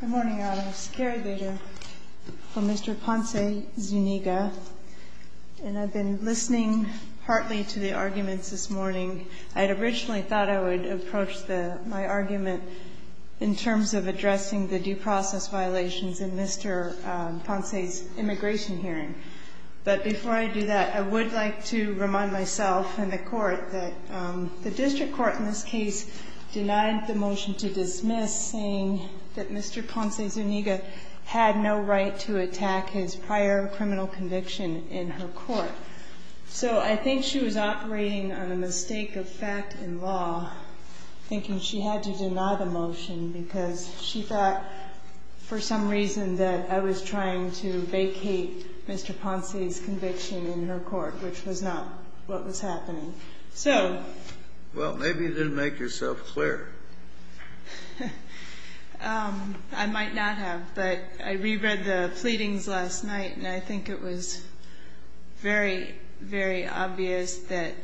Good morning, Your Honor. Ms. Carabello for Mr. Ponce-Zuniga, and I've been listening heartily to the arguments this morning. I'd originally thought I would approach my argument in terms of addressing the due process violations in Mr. Ponce's immigration hearing. But before I do that, I would like to remind myself and the Court that the District Court in this case has dismissed saying that Mr. Ponce-Zuniga had no right to attack his prior criminal conviction in her court. So I think she was operating on a mistake of fact in law, thinking she had to deny the motion because she thought for some reason that I was trying to vacate Mr. Ponce's conviction in her court, which was not what was happening. So… I might not have, but I reread the pleadings last night, and I think it was very, very obvious that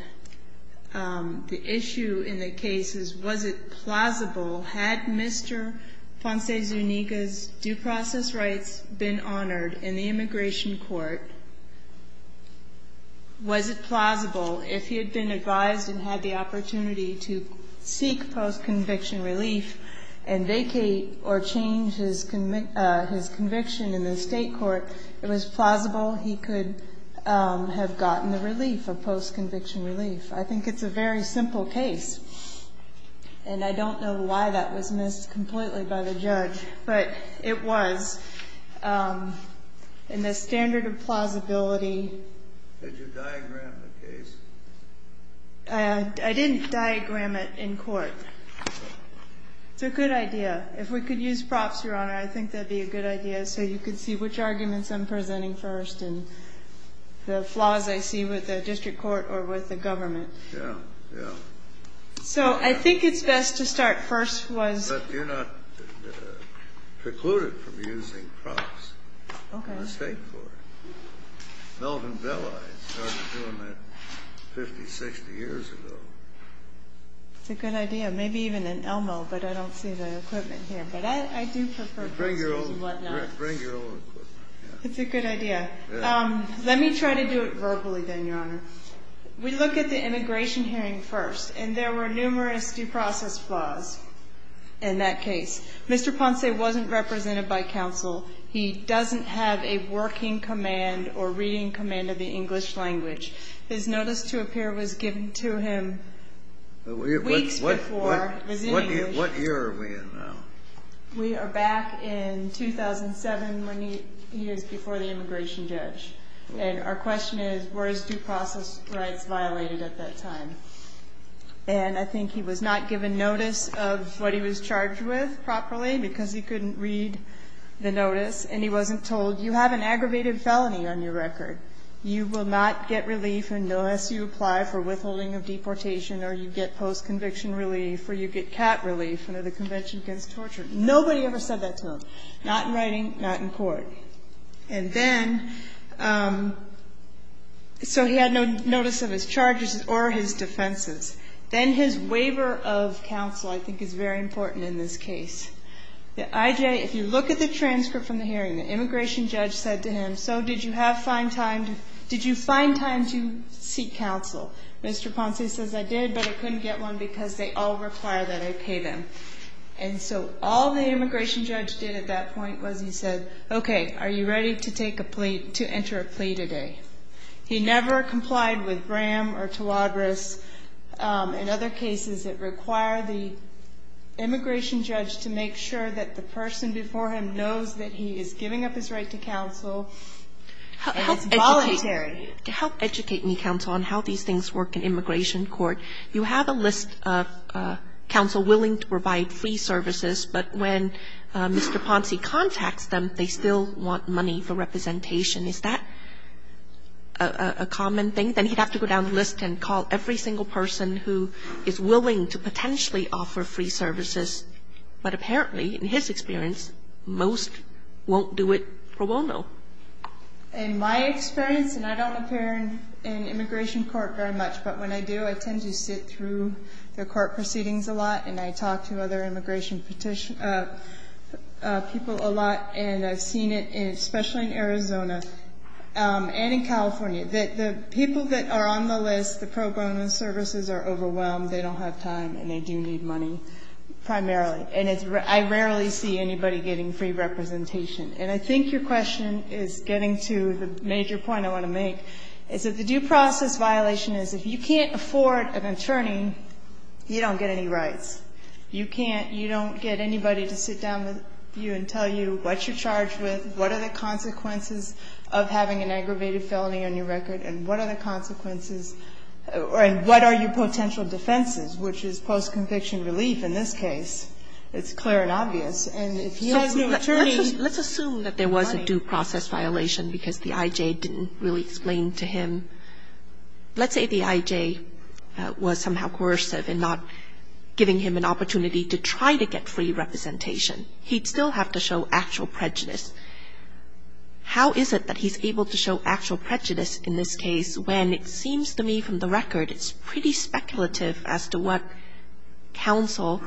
the issue in the case is, was it plausible, had Mr. Ponce-Zuniga's due process rights been honored in the immigration court, was it plausible if he had been advised and had the opportunity to seek post-conviction relief and vacate or change his conviction in the State court, it was plausible he could have gotten the relief of post-conviction relief. I think it's a very simple case, and I don't know why that was missed completely by the judge, but it was. And the standard of plausibility… I didn't diagram it in court. It's a good idea. If we could use props, Your Honor, I think that'd be a good idea so you could see which arguments I'm presenting first and the flaws I see with the district court or with the government. So I think it's best to start first with… It's a good idea. Maybe even an Elmo, but I don't see the equipment here. But I do prefer props and whatnot. Bring your own equipment. It's a good idea. Let me try to do it verbally then, Your Honor. We look at the immigration hearing first, and there were numerous due process flaws in that case. Mr. Ponce wasn't represented by counsel. He doesn't have a working command or reading command of the English language. His notice to appear was given to him weeks before his immigration… What year are we in now? We are back in 2007, when he was before the immigration judge. And our question is, were his due process rights violated at that time? And I think he was not given notice of what he was charged with properly because he couldn't read the notice, and he wasn't told, you have an aggravated felony on your record. You will not get relief unless you apply for withholding of deportation, or you get post-conviction relief, or you get cat relief under the Convention Against Torture. Nobody ever said that to him, not in writing, not in court. And then… So he had no notice of his charges or his defenses. Then his waiver of counsel, I think, is very important in this case. The IJ… If you look at the transcript from the hearing, the immigration judge said to him, so did you have fine time to… Did you find time to seek counsel? Mr. Ponce says, I did, but I couldn't get one because they all require that I pay them. And so all the immigration judge did at that point was he said, okay, are you ready to take a plea… to enter a plea today? He never complied with Graham or Tawadros. In other cases, it required the immigration judge to make sure that the person before him knows that he is giving up his right to counsel, and it's voluntary. Kagan. To help educate me, counsel, on how these things work in immigration court, you have a list of counsel willing to provide free services, but when Mr. Ponce contacts them, they still want money for representation. Is that a common thing? Then he'd have to go down the list and call every single person who is willing to potentially offer free services. But apparently, in his experience, most won't do it pro bono. In my experience, and I don't appear in immigration court very much, but when I do, I tend to sit through the court proceedings a lot, and I talk to other immigration people a lot, and I've seen it, especially in Arizona and in California, that the people that are on the list, the pro bono services are overwhelmed, they don't have time, and they do need money primarily. And I rarely see anybody getting free representation. And I think your question is getting to the major point I want to make, is that the due process violation is if you can't afford an attorney, you don't get any rights. You can't you don't get anybody to sit down with you and tell you what you're charged with, what are the consequences of having an aggravated felony on your record, and what are the consequences, and what are your potential defenses, which is post-conviction relief in this case. It's clear and obvious. And if you have no attorney, you don't get any money. Kagan. Let's assume that there was a due process violation because the I.J. didn't really explain to him. Let's say the I.J. was somehow coercive in not giving him an attorney, and the I.J. didn't really explain to him what the consequences of having an aggravated felony on your record are. How is it that he's able to show actual prejudice in this case when it seems to me from the record it's pretty speculative as to what counsel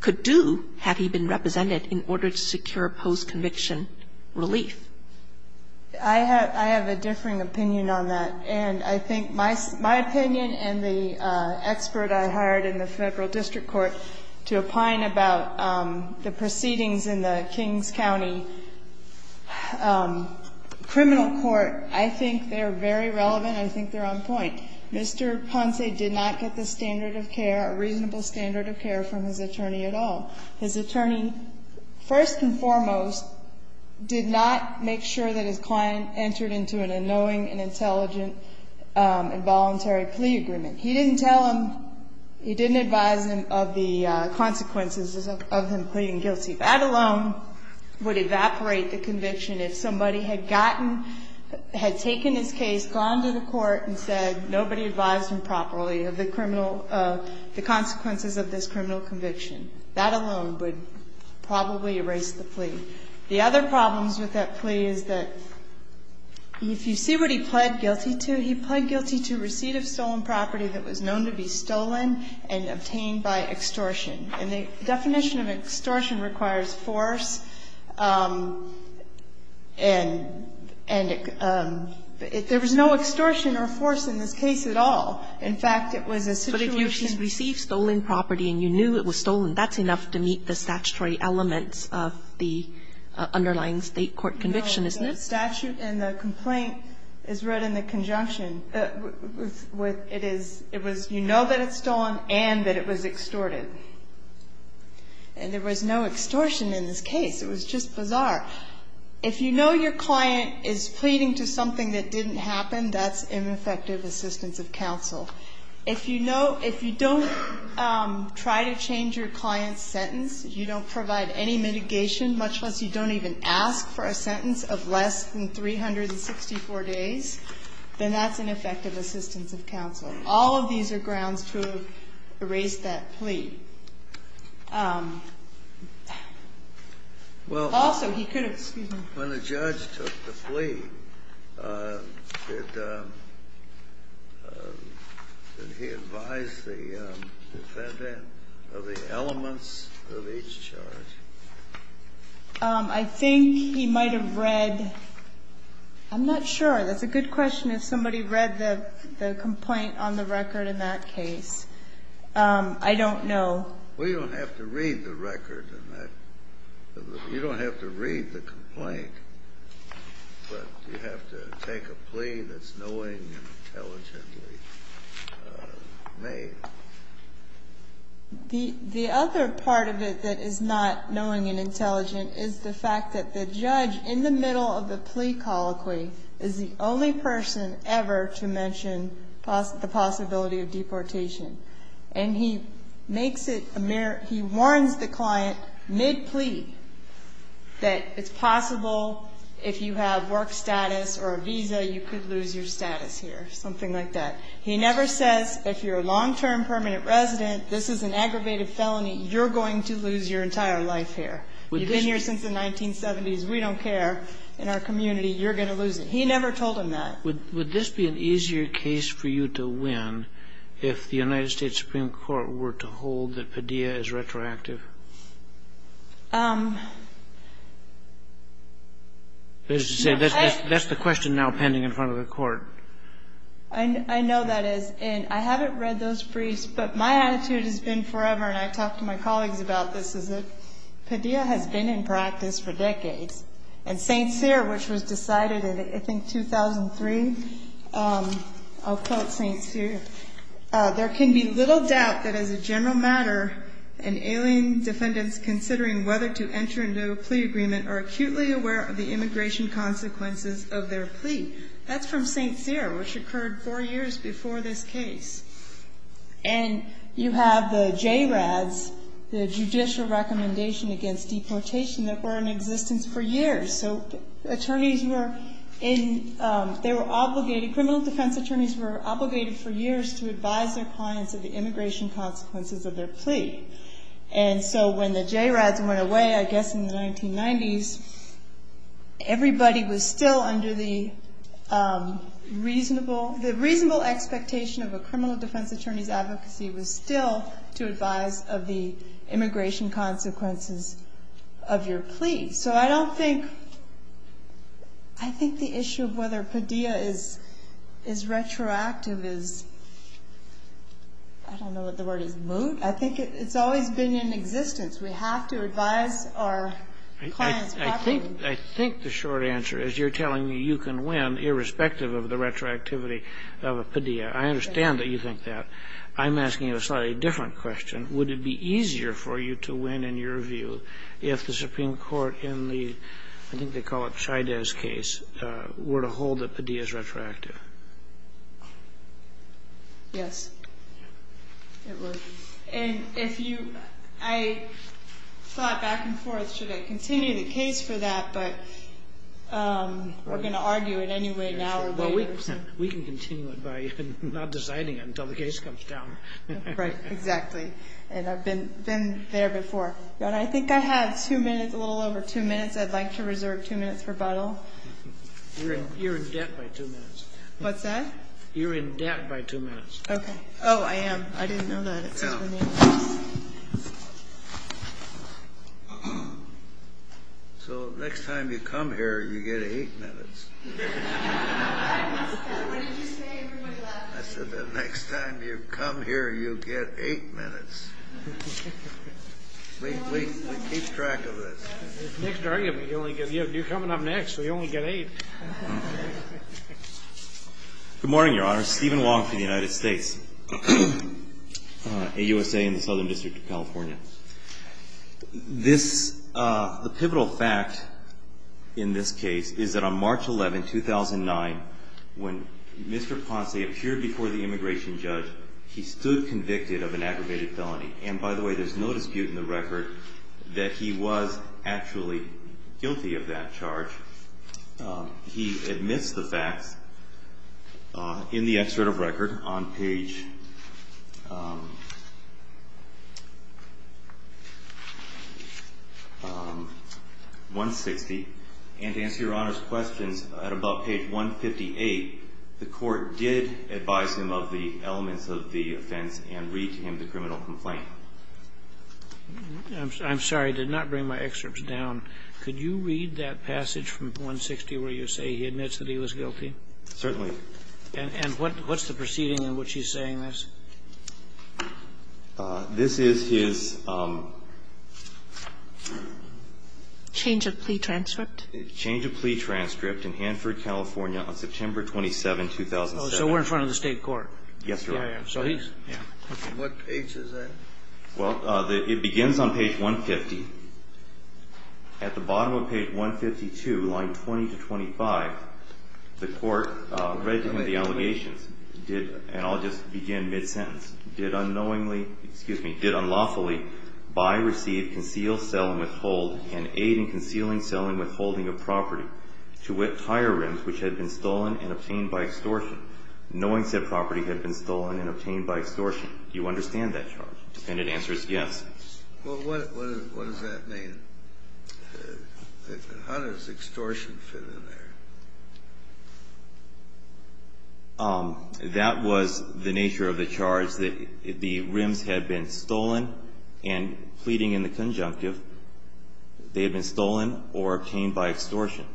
could do had he been represented in order to secure post-conviction relief? I have a differing opinion on that. And I think my opinion and the expert I hired in the Federal District Court to opine about the proceedings in the Kings County criminal court, I think they're very relevant and I think they're on point. Mr. Ponce did not get the standard of care, a reasonable standard of care from his attorney at all. His attorney, first and foremost, did not make sure that his client entered into a knowing and intelligent involuntary plea agreement. He didn't tell him, he didn't advise him of the consequences of him pleading guilty. That alone would evaporate the conviction if somebody had gotten, had taken his case, gone to the court and said nobody advised him properly of the criminal, the consequences of this criminal The other problems with that plea is that if you see what he pled guilty to, he pled guilty to receipt of stolen property that was known to be stolen and obtained by extortion. And the definition of extortion requires force, and there was no extortion or force in this case at all. In fact, it was a situation. But if you received stolen property and you knew it was stolen, that's enough to meet the statutory elements of the underlying State court conviction, isn't it? No. The statute and the complaint is read in the conjunction. It is, it was, you know that it's stolen and that it was extorted. And there was no extortion in this case. It was just bizarre. If you know your client is pleading to something that didn't happen, that's ineffective assistance of counsel. If you know, if you don't try to change your client's sentence, you don't provide any mitigation, much less you don't even ask for a sentence of less than 364 days, then that's ineffective assistance of counsel. All of these are grounds to have raised that plea. Also, he could have, excuse me, he advised the defendant of the elements of each charge. I think he might have read, I'm not sure. That's a good question. If somebody read the complaint on the record in that case. I don't know. Well, you don't have to read the record in that. You don't have to read the complaint. But you have to take a plea that's knowing and intelligently made. The other part of it that is not knowing and intelligent is the fact that the judge in the middle of the plea colloquy is the only person ever to mention the possibility of deportation. And he makes it, he warns the client mid-plea that it's possible if you have work status or a visa, you could lose your status here, something like that. He never says if you're a long-term permanent resident, this is an aggravated felony, you're going to lose your entire life here. You've been here since the 1970s, we don't care, in our community, you're going to lose it. He never told him that. Would this be an easier case for you to win if the United States Supreme Court were to hold that Padilla is retroactive? That's the question now pending in front of the court. I know that is. And I haven't read those briefs, but my attitude has been forever, and I've talked to my colleagues about this, is that Padilla has been in practice for decades. And St. Cyr, which was decided in, I think, 2003, I'll quote St. Cyr, there can be little doubt that as a general matter, an alien defendant's considering whether to enter into a plea agreement are acutely aware of the immigration consequences of their plea. That's from St. Cyr, which occurred four years before this case. And you have the JRADS, the Judicial Recommendation Against Deportation, that were in existence for years. So attorneys were in, they were obligated, criminal defense attorneys were obligated for years to advise their clients of the immigration consequences of their plea. And so when the JRADS went away, I guess in the 1990s, everybody was still under the reasonable, the reasonable expectation of a criminal defense attorney's advocacy was still to advise of the immigration consequences of your plea. So I don't think, I think the issue of whether Padilla is retroactive is, I don't know what the word is, moot? I think it's always been in existence. We have to advise our clients properly. I think the short answer is you're telling me you can win, irrespective of the retroactivity of a Padilla. I understand that you think that. I'm asking you a slightly different question. Would it be easier for you to win, in your view, if the Supreme Court in the, I think they call it Chaidez case, were to hold that Padilla is retroactive? Yes, it would. And if you, I thought back and forth, should I continue the case for that, but we're going to argue it anyway now or later. We can continue it by not deciding it until the case comes down. Right, exactly. And I've been there before. I think I have two minutes, a little over two minutes. I'd like to reserve two minutes rebuttal. You're in debt by two minutes. What's that? You're in debt by two minutes. Okay. Oh, I am. I didn't know that. So next time you come here, you get eight minutes. I missed that. What did you say? I said the next time you come here, you get eight minutes. We keep track of this. It's a mixed argument. You're coming up next, so you only get eight. Good morning, Your Honor. Steven Wong for the United States. AUSA in the Southern District of California. The pivotal fact in this case is that on March 11, 2009, when Mr. Ponce appeared before the immigration judge, he stood convicted of an aggravated felony. And, by the way, there's no dispute in the record that he was actually guilty of that charge. He admits the facts in the excerpt of record on page 160. And to answer Your Honor's questions, at about page 158, the Court did advise him of the elements of the offense and read to him the criminal complaint. I'm sorry. I did not bring my excerpts down. Could you read that passage from 160 where you say he admits that he was guilty? Certainly. And what's the proceeding in which he's saying this? This is his change of plea transcript. Change of plea transcript in Hanford, California, on September 27, 2007. Oh, so we're in front of the State Court. Yes, Your Honor. Yeah, yeah. What page is that? Well, it begins on page 150. At the bottom of page 152, line 20 to 25, the Court read to him the allegations. And I'll just begin mid-sentence. Did unknowingly, excuse me, did unlawfully buy, receive, conceal, sell, and withhold, and aid in concealing, selling, withholding a property to whip tire rims, which had been stolen and obtained by extortion, knowing said property had been stolen and obtained by extortion. Do you understand that charge? The defendant answers yes. Well, what does that mean? How does extortion fit in there? That was the nature of the charge, that the rims had been stolen, and pleading in the conjunctive, they had been stolen or obtained by extortion.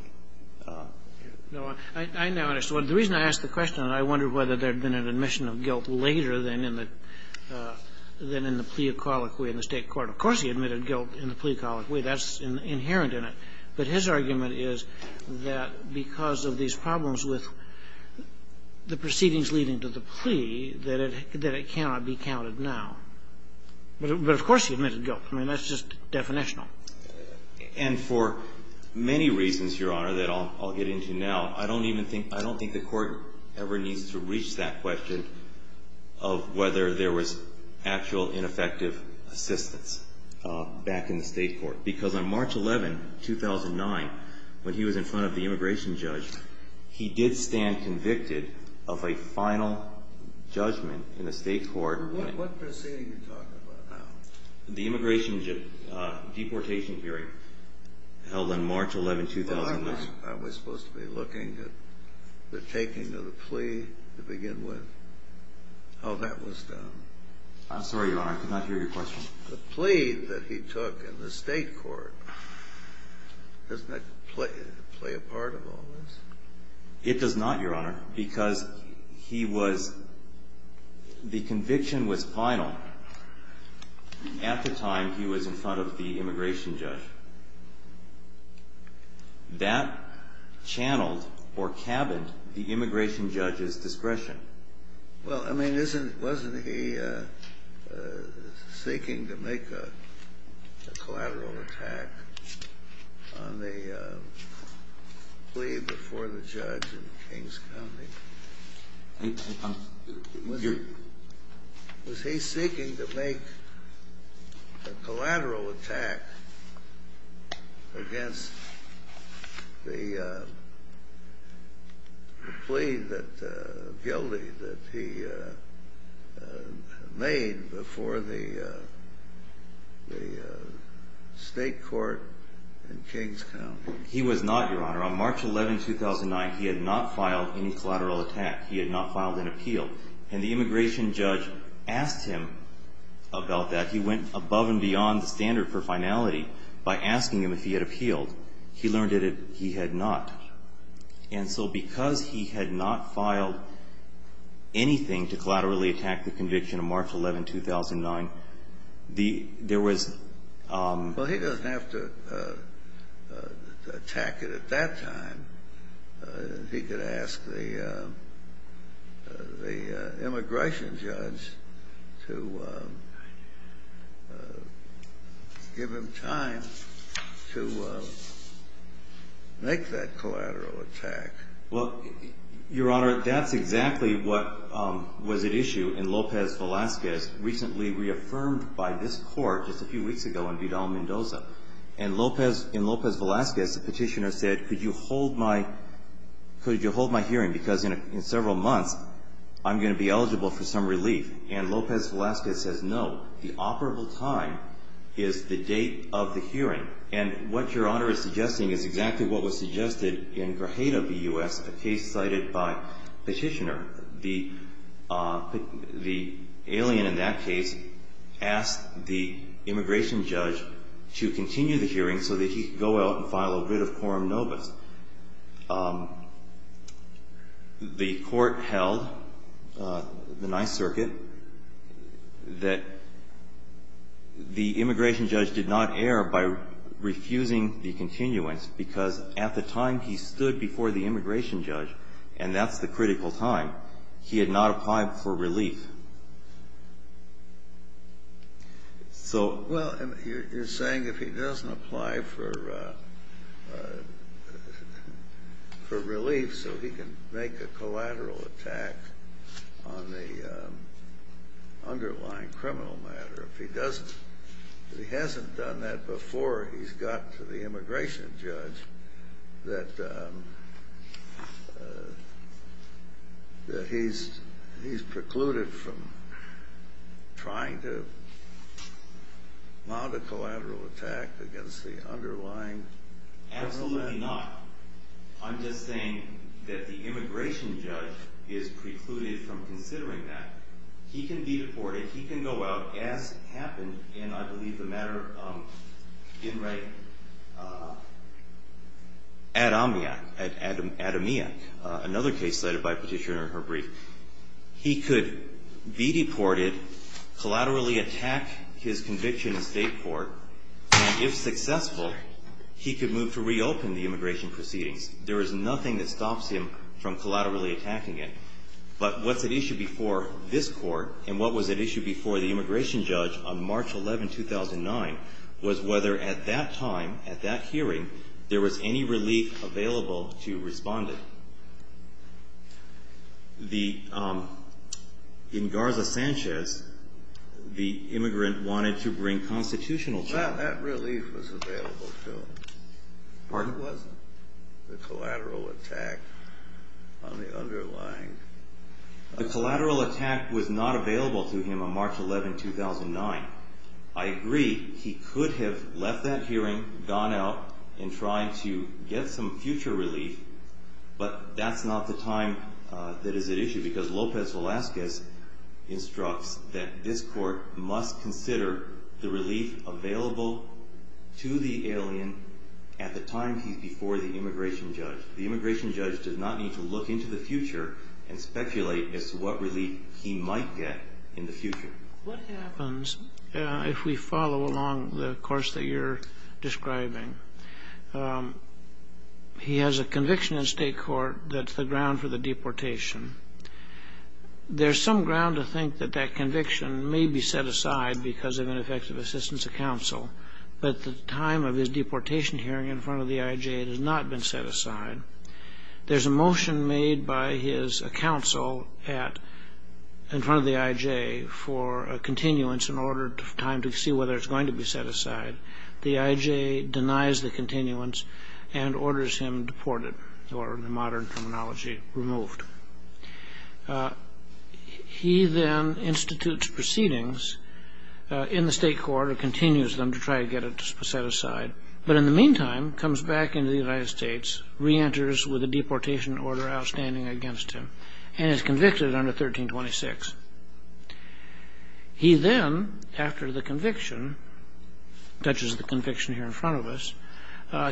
I now understand. The reason I ask the question, I wonder whether there had been an admission of guilt later than in the plea of colloquy in the State court. Of course he admitted guilt in the plea of colloquy. That's inherent in it. But his argument is that because of these problems with the proceedings leading to the plea, that it cannot be counted now. But of course he admitted guilt. I mean, that's just definitional. And for many reasons, Your Honor, that I'll get into now, I don't even think the Court ever needs to reach that question of whether there was actual ineffective assistance back in the State court. Because on March 11, 2009, when he was in front of the immigration judge, he did stand convicted of a final judgment in the State court. What proceeding are you talking about now? The immigration deportation hearing held on March 11, 2009. Aren't we supposed to be looking at the taking of the plea to begin with? Oh, that was done. I'm sorry, Your Honor. I could not hear your question. The plea that he took in the State court, doesn't that play a part in all this? It does not, Your Honor, because the conviction was final at the time he was in front of the immigration judge. That channeled or cabined the immigration judge's discretion. Well, I mean, wasn't he seeking to make a collateral attack on the plea before the judge in Kings County? I'm here. Was he seeking to make a collateral attack against the plea that he made before the State court in Kings County? He was not, Your Honor. On March 11, 2009, he had not filed any collateral attack. He had not filed an appeal. And the immigration judge asked him about that. He went above and beyond the standard for finality by asking him if he had appealed. He learned that he had not. And so because he had not filed anything to collaterally attack the conviction on March 11, 2009, there was — Well, he doesn't have to attack it at that time. He could ask the immigration judge to give him time to make that collateral attack. Well, Your Honor, that's exactly what was at issue in Lopez Velazquez, recently reaffirmed by this court just a few weeks ago in Vidal-Mendoza. And in Lopez Velazquez, the petitioner said, could you hold my hearing because in several months, I'm going to be eligible for some relief. And Lopez Velazquez says, no, the operable time is the date of the hearing. And what Your Honor is suggesting is exactly what was suggested in Grajeda v. U.S., a case cited by Petitioner. The alien in that case asked the immigration judge to continue the hearing so that he could go out and file a writ of quorum nobis. The court held, the Ninth Circuit, that the immigration judge did not err by refusing the continuance because at the time he stood before the immigration judge, and that's the critical time, he had not applied for relief. Well, you're saying if he doesn't apply for relief so he can make a collateral attack on the underlying criminal matter, if he hasn't done that before he's got to the immigration judge, that he's precluded from trying to mount a collateral attack against the underlying criminal matter? Absolutely not. I'm just saying that the immigration judge is precluded from considering that. He can be deported. He can go out, as happened in, I believe, the matter in right ad amia, another case cited by Petitioner in her brief. He could be deported, collaterally attack his conviction in state court, and if successful he could move to reopen the immigration proceedings. There is nothing that stops him from collaterally attacking it. But what's at issue before this court, and what was at issue before the immigration judge on March 11, 2009, was whether at that time, at that hearing, there was any relief available to respondent. In Garza-Sanchez, the immigrant wanted to bring constitutional challenge. Well, that relief was available to him. Pardon? It wasn't. The collateral attack on the underlying. The collateral attack was not available to him on March 11, 2009. I agree he could have left that hearing, gone out, and tried to get some future relief, but that's not the time that is at issue, because Lopez Velasquez instructs that this court must consider the relief available to the alien at the time he's before the immigration judge. The immigration judge does not need to look into the future and speculate as to what relief he might get in the future. What happens if we follow along the course that you're describing? He has a conviction in state court that's the ground for the deportation. There's some ground to think that that conviction may be set aside because of ineffective assistance of counsel, but at the time of his deportation hearing in front of the IJ, it has not been set aside. There's a motion made by his counsel in front of the IJ for a continuance in order to have time to see whether it's going to be set aside. The IJ denies the continuance and orders him deported, or in modern terminology, removed. He then institutes proceedings in the state court and continues them to try to get it set aside, but in the meantime comes back into the United States, reenters with a deportation order outstanding against him, and is convicted under 1326. He then, after the conviction, touches the conviction here in front of us,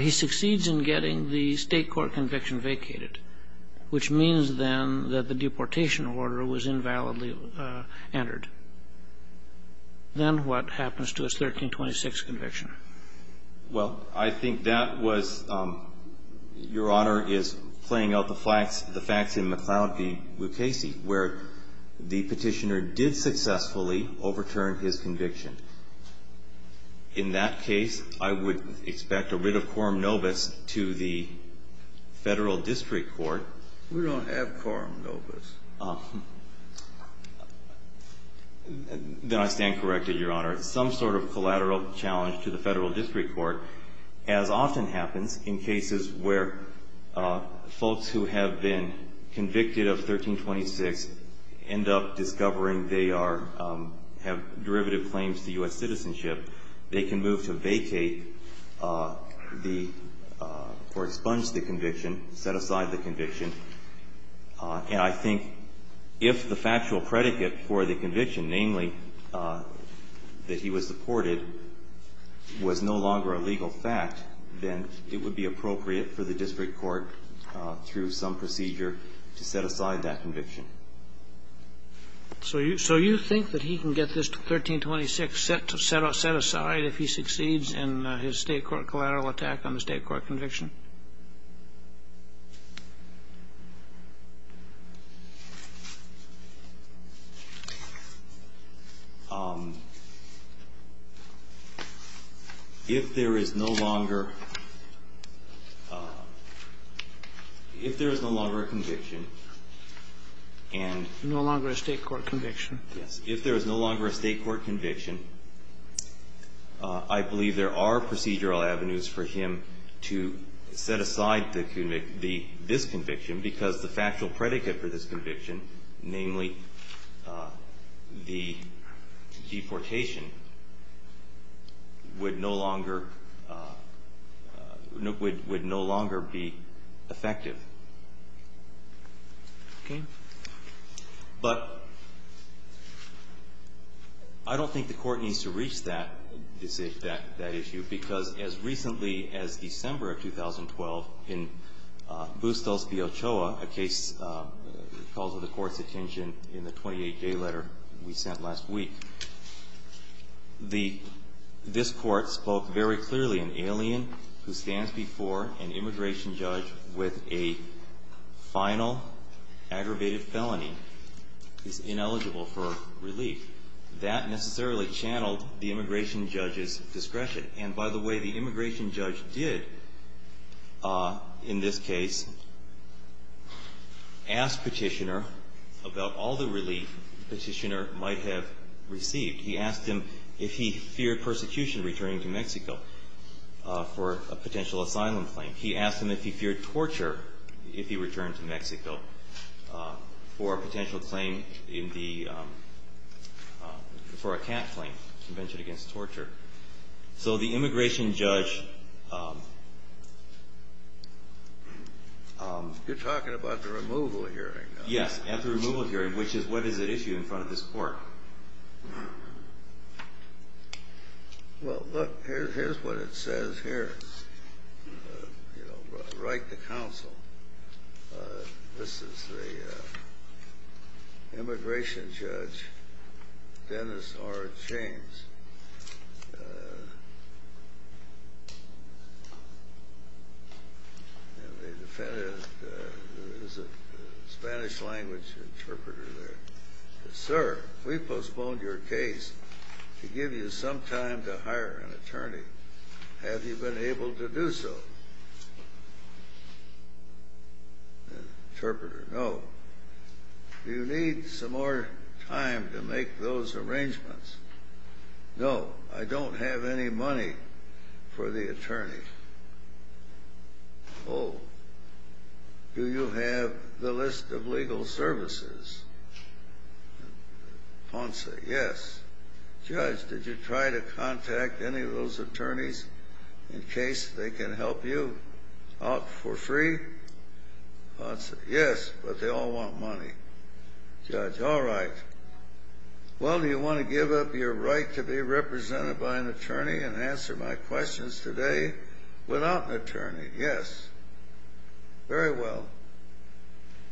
he succeeds in getting the state court conviction vacated, which means then that the deportation order was invalidly entered. Then what happens to his 1326 conviction? Well, I think that was your Honor is playing out the facts in McCloud v. Lucchesi, where the Petitioner did successfully overturn his conviction. In that case, I would expect a writ of quorum nobis to the Federal District Court. We don't have quorum nobis. Then I stand corrected, Your Honor. Some sort of collateral challenge to the Federal District Court, as often happens in cases where folks who have been convicted of 1326 end up discovering they are, have derivative claims to U.S. citizenship. They can move to vacate the, or expunge the conviction, set aside the conviction. And I think if the factual predicate for the conviction, namely, that he was deported, was no longer a legal fact, then it would be appropriate for the district court through some procedure to set aside that conviction. So you, so you think that he can get this 1326 set aside if he succeeds in his state court collateral attack on the state court conviction? If there is no longer, if there is no longer a conviction, and no longer a state court conviction. Yes. If there is no longer a state court conviction, I believe there are procedural avenues for him to set aside the, this conviction, because the factual predicate for this conviction, namely, the deportation, would no longer, would no longer be effective. Okay. But, I don't think the court needs to reach that, that issue, because as recently as December of 2012, in Bustos v. Ochoa, a case called to the court's attention in the 28-day letter we sent last week, the, this court spoke very clearly. An alien who stands before an immigration judge with a final aggravated felony is ineligible for relief. That necessarily channeled the immigration judge's discretion. And by the way, the immigration judge did, in this case, ask Petitioner about all the relief Petitioner might have received. He asked him if he feared persecution returning to Mexico for a potential asylum claim. He asked him if he feared torture if he returned to Mexico for a potential claim in the, for a CAT claim, Convention Against Torture. So the immigration judge... You're talking about the removal hearing. Yes. At the removal hearing, which is what is at issue in front of this court. Well, look, here's what it says here. You know, write to counsel. This is the immigration judge, Dennis R. James. And the defendant is a Spanish-language interpreter there. Sir, we postponed your case to give you some time to hire an attorney. Have you been able to do so? Interpreter, no. Do you need some more time to make those arrangements? No, I don't have any money for the attorney. Oh, do you have the list of legal services? Ponce, yes. Judge, did you try to contact any of those attorneys in case they can help you out for free? Ponce, yes, but they all want money. Judge, all right. Well, do you want to give up your right to be represented by an attorney and answer my questions today without an attorney? Yes. Very well.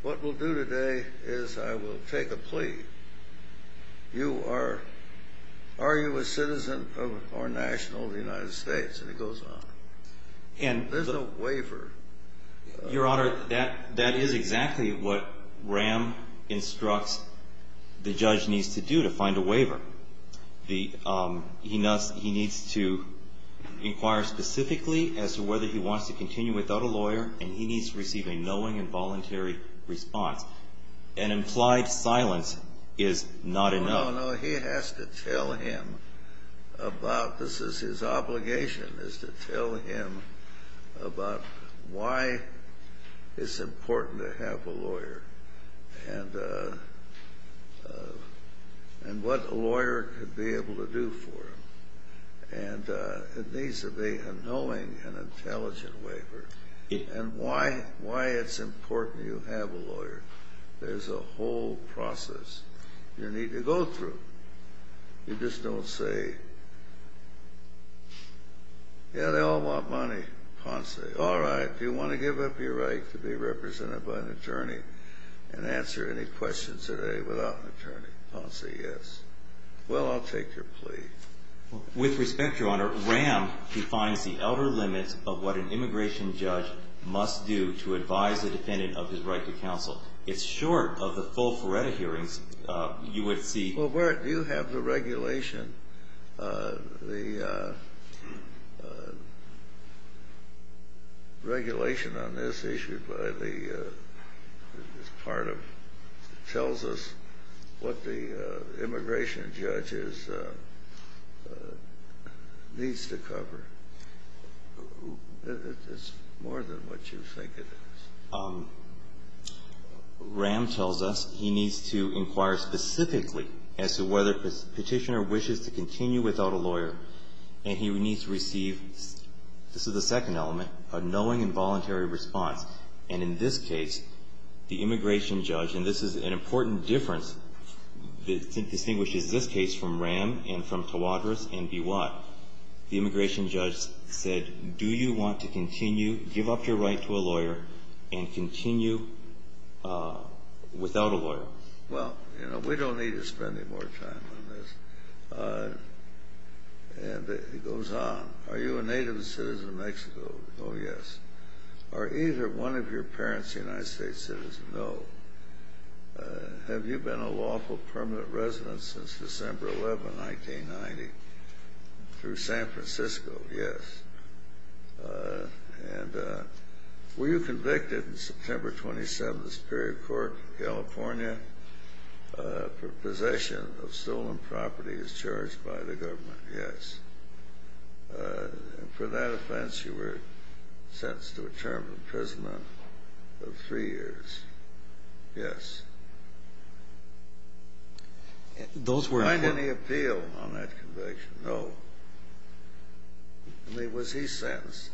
What we'll do today is I will take a plea. Are you a citizen or national of the United States? And it goes on. There's no waiver. Your Honor, that is exactly what Graham instructs the judge needs to do to find a waiver. He needs to inquire specifically as to whether he wants to continue without a knowing and voluntary response. An implied silence is not enough. No, no, no. He has to tell him about this is his obligation is to tell him about why it's important to have a lawyer and what a lawyer could be able to do for him. And it needs to be a knowing and intelligent waiver. And why it's important you have a lawyer. There's a whole process you need to go through. You just don't say, yeah, they all want money. Ponce, all right. Do you want to give up your right to be represented by an attorney and answer any questions today without an attorney? Ponce, yes. Well, I'll take your plea. With respect, Your Honor, Graham defines the outer limits of what an immigration judge must do to advise a defendant of his right to counsel. It's short of the full FORETA hearings you would see. Well, where do you have the regulation? The regulation on this issued by the part of it tells us what the immigration judge needs to cover. It's more than what you think it is. Graham tells us he needs to inquire specifically as to whether the petitioner wishes to continue without a lawyer and he needs to receive, this is the second element, a knowing and voluntary response. And in this case, the immigration judge, and this is an important difference that distinguishes this case from Ram and from Tawadros and Biwak, the immigration judge said, do you want to continue, give up your right to a lawyer and continue without a lawyer? Well, you know, we don't need to spend any more time on this. And it goes on. Are you a native citizen of Mexico? Oh, yes. Are either one of your parents a United States citizen? No. Have you been a lawful permanent resident since December 11, 1990 through San Francisco? Yes. And were you convicted in September 27 of the Superior Court in California for possession of stolen property as charged by the government? Yes. And for that offense, you were sentenced to a term of imprisonment of three years. Yes. Those were upon the appeal on that conviction. No. I mean, was he sentenced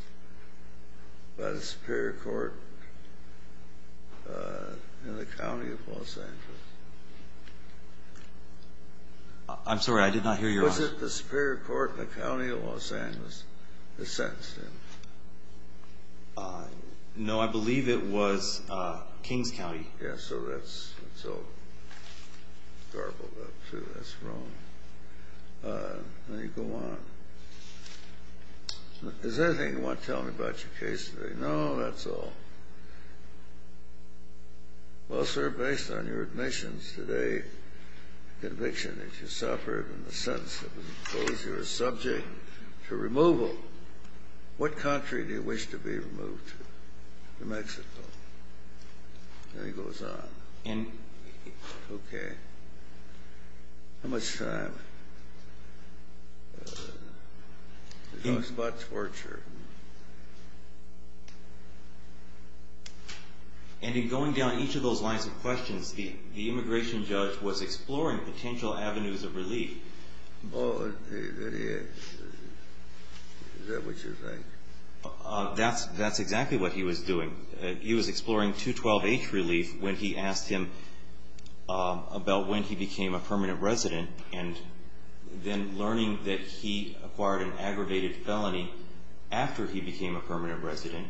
by the Superior Court in the county of Los Angeles? I'm sorry. I did not hear your answer. Was it the Superior Court in the county of Los Angeles that sentenced him? No, I believe it was Kings County. Yes, so that's all garbled up, too. That's wrong. Now you go on. Is there anything you want to tell me about your case today? No, that's all. Well, sir, based on your admissions today, the conviction that you suffered in the sentence of imposure is subject to removal. What country do you wish to be removed to? New Mexico. And he goes on. Okay. How much time? He talks about torture. And in going down each of those lines of questions, the immigration judge was exploring potential avenues of relief. Oh, is that what you're saying? That's exactly what he was doing. He was exploring 212H relief when he asked him about when he became a permanent resident, and then learning that he acquired an aggravated felony after he became a permanent resident.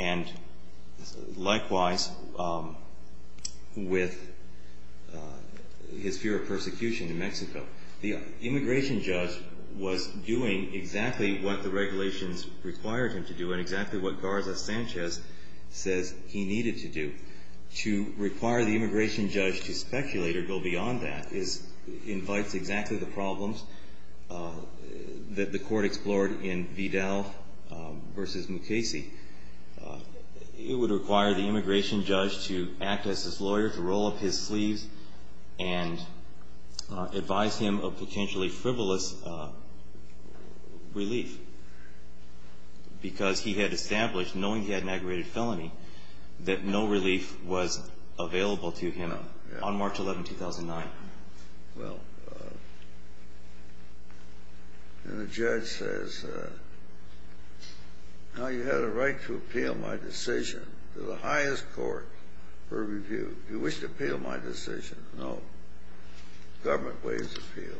And likewise, with his fear of persecution in Mexico, the immigration judge was doing exactly what the regulations required him to do and exactly what Garza Sanchez says he needed to do. To require the immigration judge to speculate or go beyond that invites exactly the problems that the court explored in Vidal v. Mukasey. It would require the immigration judge to act as his lawyer, to roll up his sleeves and advise him of potentially frivolous relief because he had established, that no relief was available to him on March 11, 2009. Well, and the judge says, no, you had a right to appeal my decision to the highest court for review. You wish to appeal my decision? No. Government waives appeal.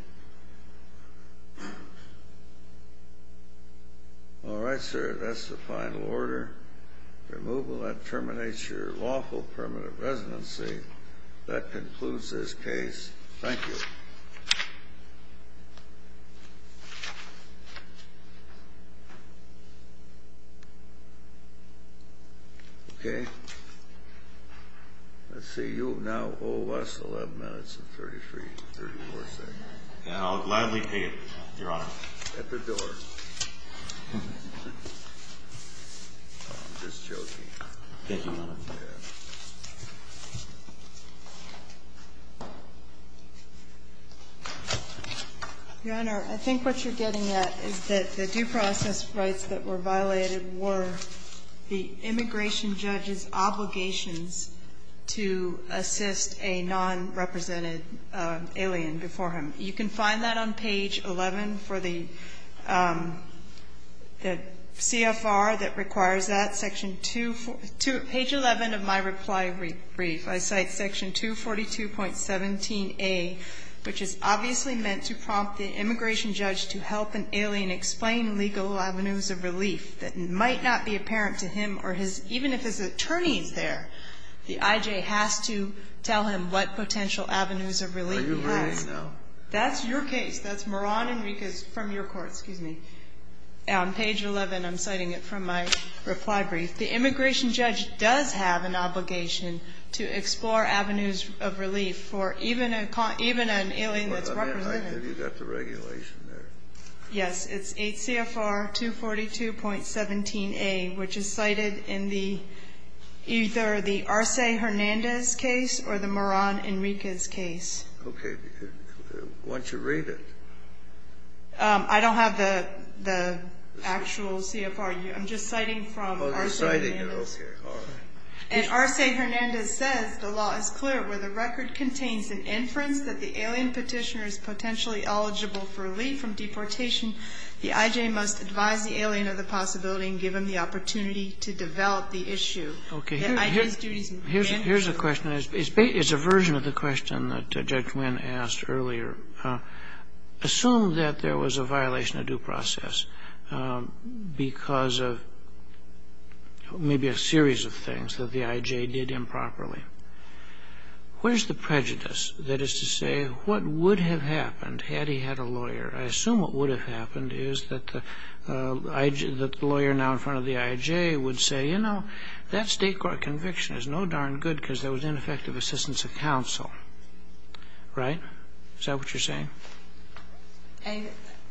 All right, sir, that's the final order. Removal. That terminates your lawful permanent residency. That concludes this case. Thank you. Okay. Let's see. You now owe us 11 minutes and 33, 34 seconds. And I'll gladly pay it, Your Honor. At the door. I'm just joking. Thank you, Your Honor. Yeah. Your Honor, I think what you're getting at is that the due process rights that were given to him by the immigration judge and the immigration judge's obligations to assist a non-represented alien before him. You can find that on page 11 for the CFR that requires that, section 2, page 11 of my reply brief. I cite section 242.17a, which is obviously meant to prompt the immigration judge to help an alien explain legal avenues of relief that might not be apparent to him or his, even if his attorney is there. The IJ has to tell him what potential avenues of relief he has. Are you agreeing, though? That's your case. That's Moran Enriquez from your court. Excuse me. On page 11, I'm citing it from my reply brief. The immigration judge does have an obligation to explore avenues of relief for even an alien that's represented. I think you got the regulation there. Yes. It's 8 CFR 242.17a, which is cited in either the Arce Hernandez case or the Moran Enriquez case. Okay. Why don't you read it? I don't have the actual CFR. I'm just citing from Arce Hernandez. And Arce Hernandez says the law is clear. Where the record contains an inference that the alien petitioner is potentially eligible for relief from deportation, the IJ must advise the alien of the possibility and give him the opportunity to develop the issue. Okay. Here's a question. It's a version of the question that Judge Wynn asked earlier. Assume that there was a violation of due process because of maybe a series of things that the IJ did improperly. Where's the prejudice that is to say what would have happened had he had a lawyer? I assume what would have happened is that the lawyer now in front of the IJ would say, you know, that state court conviction is no darn good because there was ineffective assistance of counsel. Right? Is that what you're saying?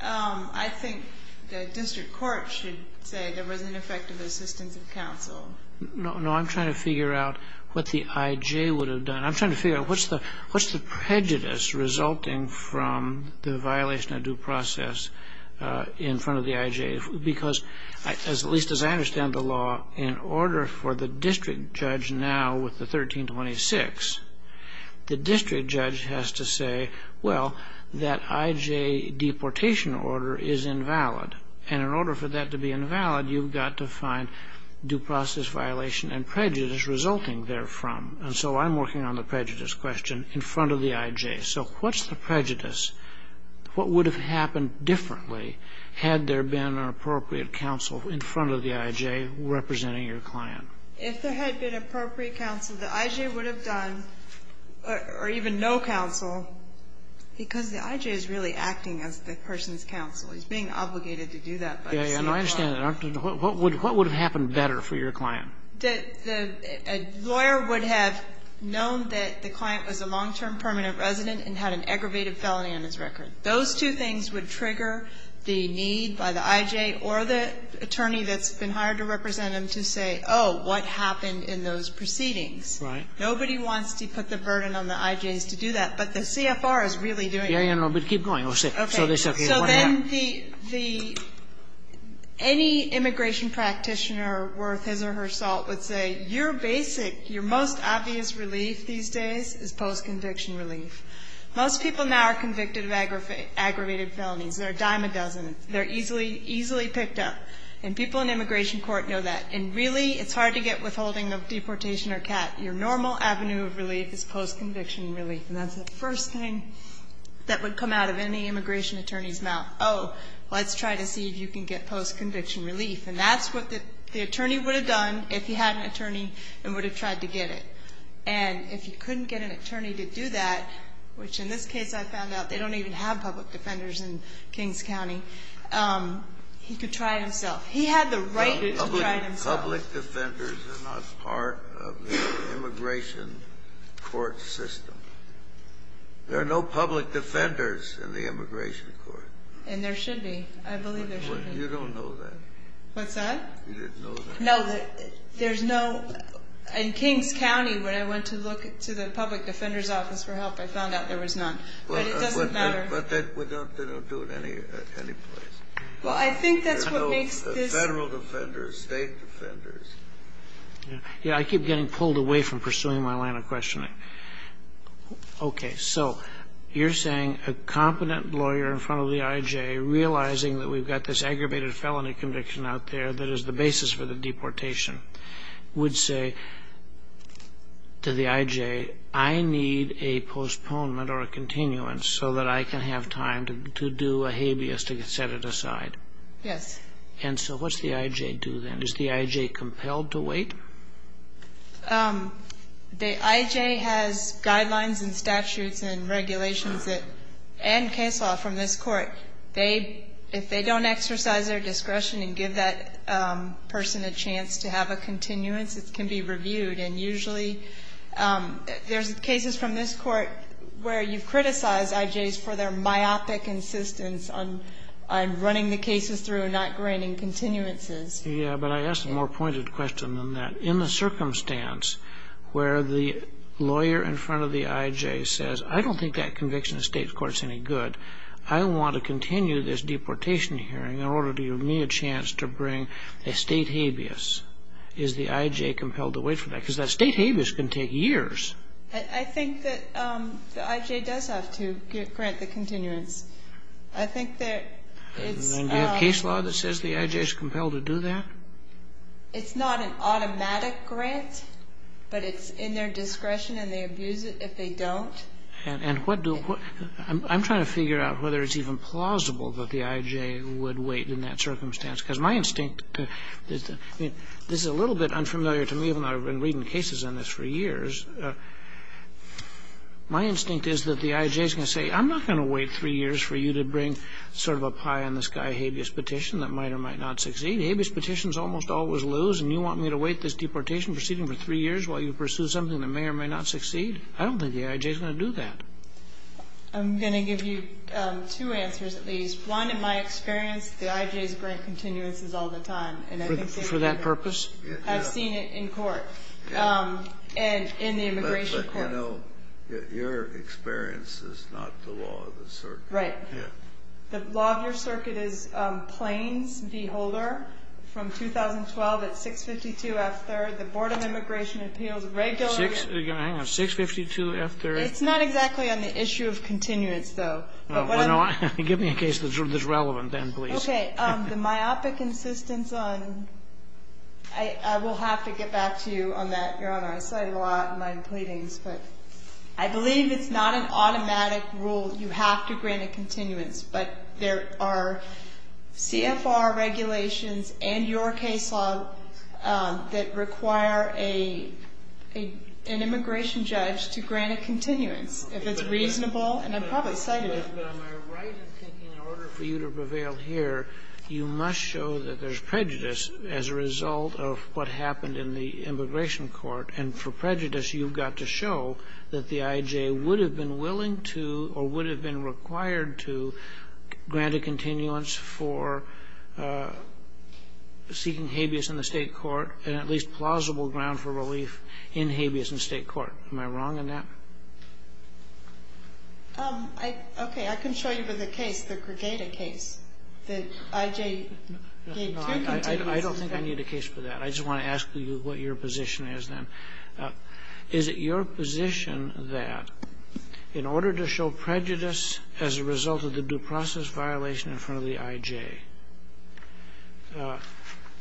I think the district court should say there was ineffective assistance of counsel. No, I'm trying to figure out what the IJ would have done. I'm trying to figure out what's the prejudice resulting from the violation of due process in front of the IJ? Because at least as I understand the law, in order for the district judge now with the 1326, the district judge has to say, well, that IJ deportation order is invalid. And in order for that to be invalid, you've got to find due process violation and prejudice resulting therefrom. And so I'm working on the prejudice question in front of the IJ. So what's the prejudice? What would have happened differently had there been an appropriate counsel in front of the IJ representing your client? If there had been appropriate counsel, the IJ would have done, or even no counsel, because the IJ is really acting as the person's counsel. He's being obligated to do that by the CFR. Yes, I understand that. What would have happened better for your client? The lawyer would have known that the client was a long-term permanent resident and had an aggravated felony on his record. Those two things would trigger the need by the IJ or the attorney that's been hired to represent him to say, oh, what happened in those proceedings? Right. Nobody wants to put the burden on the IJs to do that, but the CFR is really doing it. Yeah, yeah, no, but keep going. Oh, sick. Okay. So they say, okay, what happened? So then the any immigration practitioner worth his or her salt would say, your basic, your most obvious relief these days is post-conviction relief. Most people now are convicted of aggravated felonies. They're a dime a dozen. They're easily, easily picked up. And people in immigration court know that. And really, it's hard to get withholding of deportation or CAT. Your normal avenue of relief is post-conviction relief, and that's the first thing that would come out of any immigration attorney's mouth. Oh, let's try to see if you can get post-conviction relief. And that's what the attorney would have done if he had an attorney and would have tried to get it. And if he couldn't get an attorney to do that, which in this case I found out, they don't even have public defenders in Kings County, he could try it himself. He had the right to try it himself. Public defenders are not part of the immigration court system. There are no public defenders in the immigration court. And there should be. I believe there should be. You don't know that. What's that? You didn't know that. No, there's no. In Kings County, when I went to look to the public defender's office for help, I found out there was none. But it doesn't matter. But they don't do it any place. Well, I think that's what makes this. There are no federal defenders, state defenders. Yeah, I keep getting pulled away from pursuing my line of questioning. Okay, so you're saying a competent lawyer in front of the IJ, realizing that we've got this aggravated felony conviction out there that is the basis for the deportation, would say to the IJ, I need a postponement or a continuance so that I can have time to do a habeas to set it aside. Yes. And so what's the IJ do then? Is the IJ compelled to wait? The IJ has guidelines and statutes and regulations and case law from this Court. They, if they don't exercise their discretion and give that person a chance to have a continuance, it can be reviewed. And usually there's cases from this Court where you've criticized IJs for their myopic insistence on running the cases through and not granting continuances. Yeah, but I ask a more pointed question than that. In the circumstance where the lawyer in front of the IJ says, I don't think that conviction in the state court is any good, I want to continue this deportation hearing in order to give me a chance to bring a state habeas, is the IJ compelled to wait for that? Because that state habeas can take years. I think that the IJ does have to grant the continuance. I think that it's the case law that says the IJ is compelled to do that. It's not an automatic grant, but it's in their discretion, and they abuse it if they don't. And what do we do? I'm trying to figure out whether it's even plausible that the IJ would wait in that circumstance, because my instinct, this is a little bit unfamiliar to me, given I've been reading cases on this for years, my instinct is that the IJ is going to say, I'm not going to wait three years for you to bring sort of a pie-in-the-sky habeas petition that might or might not succeed. Habeas petitions almost always lose, and you want me to wait this deportation proceeding for three years while you pursue something that may or may not succeed? I don't think the IJ is going to do that. I'm going to give you two answers at least. One, in my experience, the IJs grant continuances all the time. For that purpose? I've seen it in court. And in the immigration courts. But, you know, your experience is not the law of the circuit. Right. The law of your circuit is Plains v. Holder from 2012 at 652 F. 3rd. The Board of Immigration Appeals regularly. Hang on. 652 F. 3rd. It's not exactly on the issue of continuance, though. Give me a case that's relevant then, please. Okay. The myopic insistence on ñ I will have to get back to you on that, Your Honor. I cite it a lot in my pleadings. But I believe it's not an automatic rule. You have to grant a continuance. But there are CFR regulations and your case law that require an immigration judge to grant a continuance if it's reasonable, and I probably cited it. But on my right of thinking, in order for you to prevail here, you must show that there's prejudice as a result of what happened in the immigration court. And for prejudice, you've got to show that the IJ would have been willing to or would have been required to grant a continuance for seeking habeas in the state court and at least plausible ground for relief in habeas in state court. Am I wrong on that? Okay. I can show you the case, the Gregata case, that IJ gave two continuances. I don't think I need a case for that. I just want to ask you what your position is then. Is it your position that in order to show prejudice as a result of the due process violation in front of the IJ,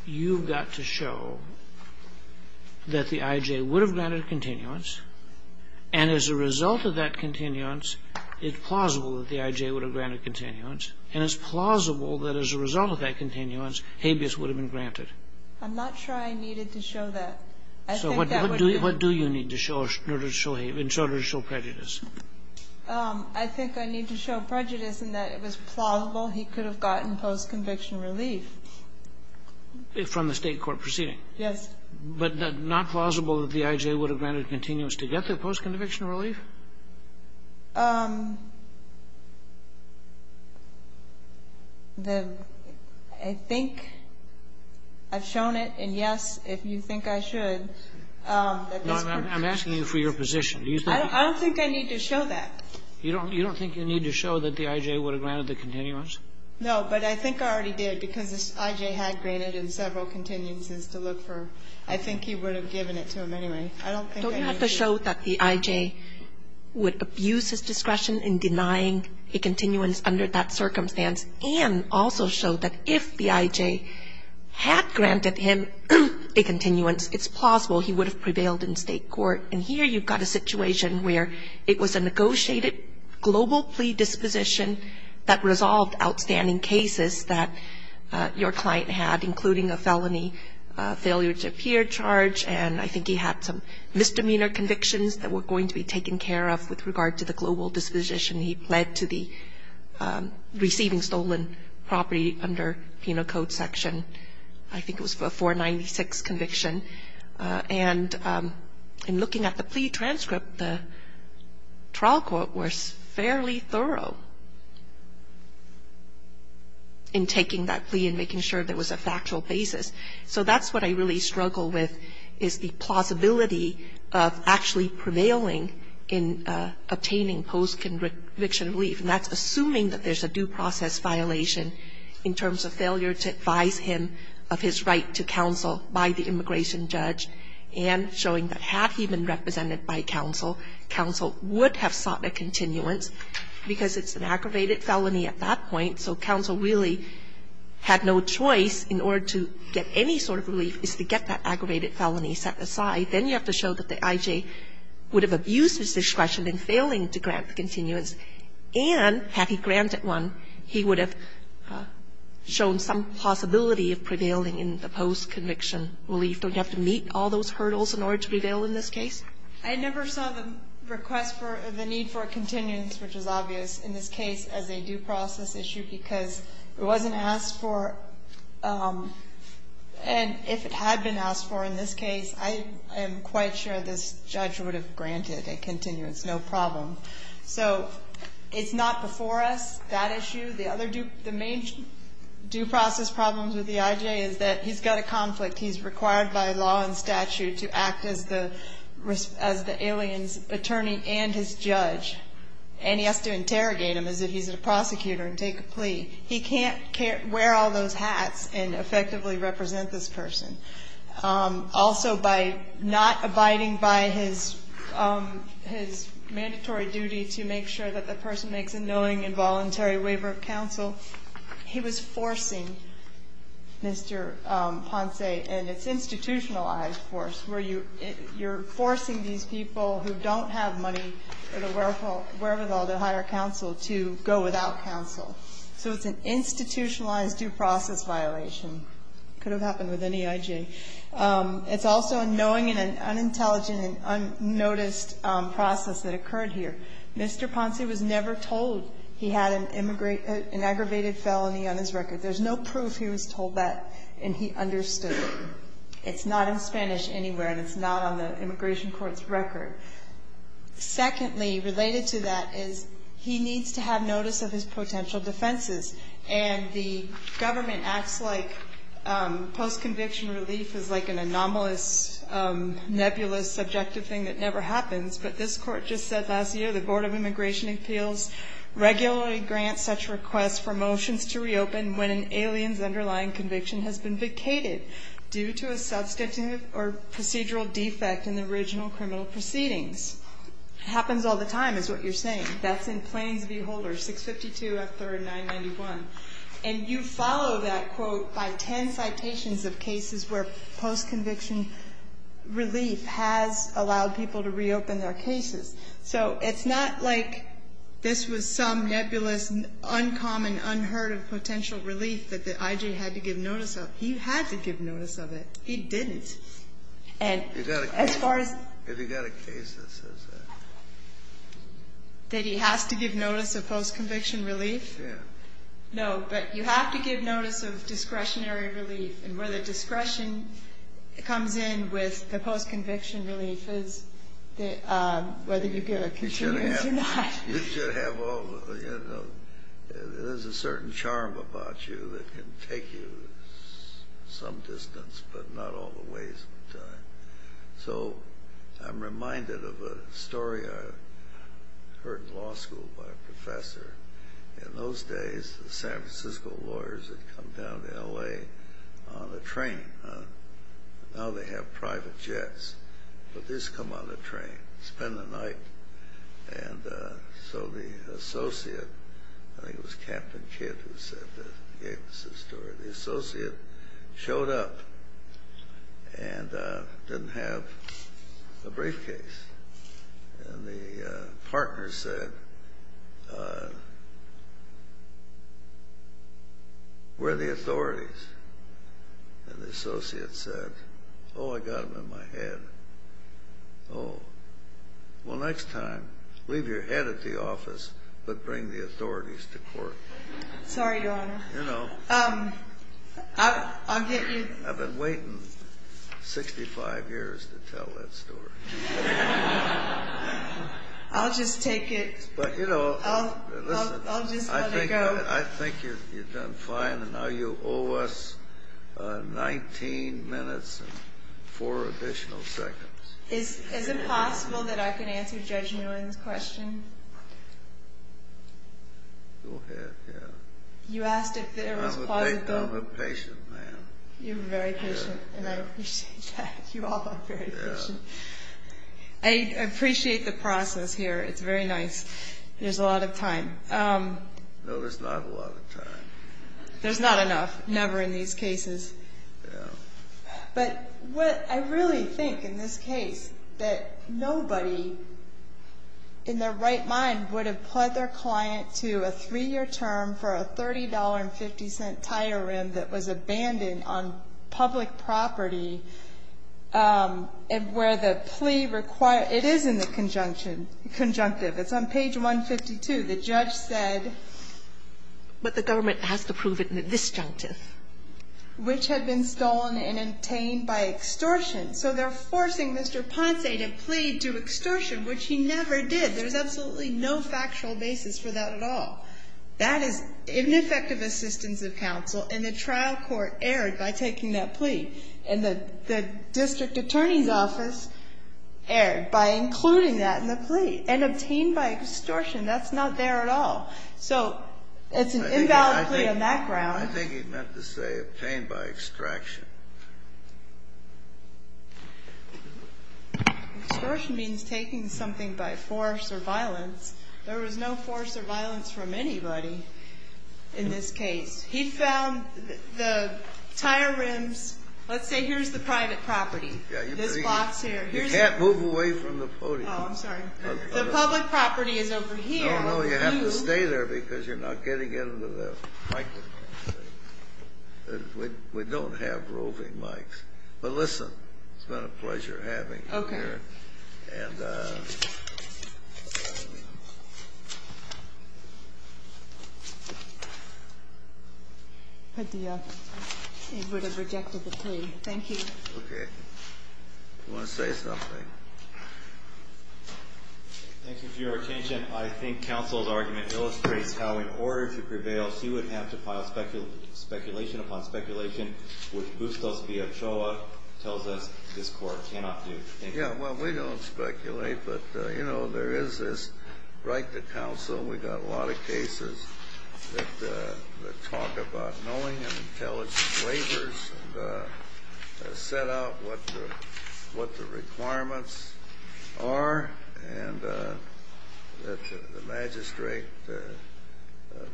you've got to show that the IJ would have granted continuance, and as a result of that continuance, it's plausible that the IJ would have granted continuance, and it's plausible that as a result of that continuance, habeas would have been granted? I'm not sure I needed to show that. So what do you need to show in order to show prejudice? I think I need to show prejudice in that it was plausible he could have gotten post-conviction relief. From the state court proceeding? Yes. But not plausible that the IJ would have granted continuance to get the post-conviction relief? I think I've shown it, and yes, if you think I should. I'm asking you for your position. I don't think I need to show that. You don't think you need to show that the IJ would have granted the continuance? No, but I think I already did because the IJ had granted him several continuances to look for. I think he would have given it to him anyway. I don't think I need to. Don't you have to show that the IJ would abuse his discretion in denying a continuance under that circumstance and also show that if the IJ had granted him a continuance, it's plausible he would have prevailed in state court? And here you've got a situation where it was a negotiated global plea disposition that resolved outstanding cases that your client had, including a felony failure to appear charge, and I think he had some misdemeanor convictions that were going to be taken care of with regard to the global disposition he pled to the receiving stolen property under Penal Code section. I think it was a 496 conviction. And in looking at the plea transcript, the trial court was fairly thorough in taking that plea and making sure there was a factual basis. So that's what I really struggle with is the plausibility of actually prevailing in obtaining post-conviction relief, and that's assuming that there's a due process violation in terms of failure to advise him of his right to counsel by the immigration judge and showing that had he been represented by counsel, counsel would have sought a continuance because it's an aggravated felony at that point. So counsel really had no choice in order to get any sort of relief is to get that aggravated felony set aside. Then you have to show that the IJ would have abused his discretion in failing to grant the continuance. And had he granted one, he would have shown some possibility of prevailing in the post-conviction relief. Don't you have to meet all those hurdles in order to prevail in this case? I never saw the request for the need for a continuance, which is obvious in this case, as a due process issue because it wasn't asked for. And if it had been asked for in this case, I am quite sure this judge would have granted the continuance, no problem. So it's not before us, that issue. The main due process problems with the IJ is that he's got a conflict. He's required by law and statute to act as the alien's attorney and his judge. And he has to interrogate him as if he's a prosecutor and take a plea. He can't wear all those hats and effectively represent this person. Also, by not abiding by his mandatory duty to make sure that the person makes a knowing and voluntary waiver of counsel, he was forcing Mr. Ponce and its institutionalized force where you're forcing these people who don't have money for the wherewithal to hire counsel to go without counsel. So it's an institutionalized due process violation. Could have happened with any IJ. It's also a knowing and an unintelligent and unnoticed process that occurred here. Mr. Ponce was never told he had an aggravated felony on his record. There's no proof he was told that, and he understood it. It's not in Spanish anywhere, and it's not on the immigration court's record. Secondly, related to that, is he needs to have notice of his potential defenses. And the government acts like post-conviction relief is like an anomalous, nebulous, subjective thing that never happens. But this Court just said last year, the Board of Immigration Appeals regularly grants such requests for motions to reopen when an alien's underlying conviction has been vacated due to a substantive or procedural defect in the original criminal proceedings. It happens all the time is what you're saying. That's in Plains v. Holder, 652 F. 3rd 991. And you follow that, quote, by ten citations of cases where post-conviction relief has allowed people to reopen their cases. So it's not like this was some nebulous, uncommon, unheard of potential relief that the IJ had to give notice of. He had to give notice of it. He didn't. And as far as the other case that says that. That he has to give notice of post-conviction relief? Yeah. No, but you have to give notice of discretionary relief. And where the discretion comes in with the post-conviction relief is whether you get a continuous or not. You should have all the, you know, there's a certain charm about you that can take you some distance, but not all the ways of time. So I'm reminded of a story I heard in law school by a professor. In those days, the San Francisco lawyers had come down to L.A. on a train. Now they have private jets. But this come on a train, spend the night. And so the associate, I think it was Captain Kidd who said that, gave us the story. The associate showed up and didn't have a briefcase. And the partner said, where are the authorities? And the associate said, oh, I got them in my head. Oh, well, next time, leave your head at the office, but bring the authorities to court. Sorry, Your Honor. You know. I'll get you. I've been waiting 65 years to tell that story. I'll just take it. But, you know. I'll just let it go. I think you've done fine, and now you owe us 19 minutes and four additional seconds. Is it possible that I can answer Judge Nguyen's question? Go ahead, yeah. You asked if there was plausible. I'm a patient man. You're very patient, and I appreciate that. You all are very patient. I appreciate the process here. It's very nice. There's a lot of time. No, there's not a lot of time. There's not enough. Never in these cases. Yeah. But what I really think in this case, that nobody, in their right mind, would have pled their client to a three-year term for a $30.50 tire rim that was abandoned on public property, where the plea required, it is in the conjunction, conjunctive. It's on page 152. The judge said. But the government has to prove it in the disjunctive. Which had been stolen and obtained by extortion. So they're forcing Mr. Ponce to plead to extortion, which he never did. There's absolutely no factual basis for that at all. That is ineffective assistance of counsel, and the trial court erred by taking that plea. And the district attorney's office erred by including that in the plea. And obtained by extortion. That's not there at all. So it's an invalid plea on that ground. I think he meant to say obtained by extraction. Extortion means taking something by force or violence. There was no force or violence from anybody in this case. He found the tire rims. Let's say here's the private property. This box here. You can't move away from the podium. Oh, I'm sorry. The public property is over here. No, no. You have to stay there because you're not getting into the private property. We don't have roving mics. But listen. It's been a pleasure having you here. Okay. And the court has rejected the plea. Thank you. Okay. You want to say something? Thank you for your attention. I think counsel's argument illustrates how in order to prevail, he would have to file speculation upon speculation, which Bustos V. Ochoa tells us this court cannot do. Yeah, well, we don't speculate, but, you know, there is this right to counsel. We've got a lot of cases that talk about knowing and intelligent waivers and set out what the requirements are. And that the magistrate,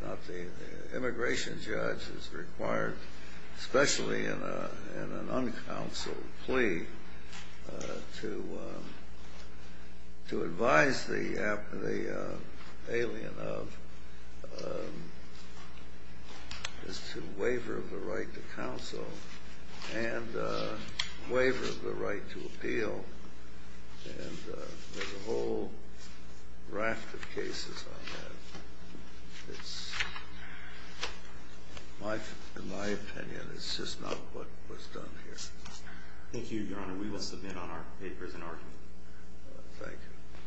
not the immigration judge, is required, especially in an uncounseled plea, to advise the alien of his waiver of the right to counsel and there's a whole raft of cases on that. It's, in my opinion, it's just not what was done here. Thank you, Your Honor. We will submit on our papers an argument. Thank you.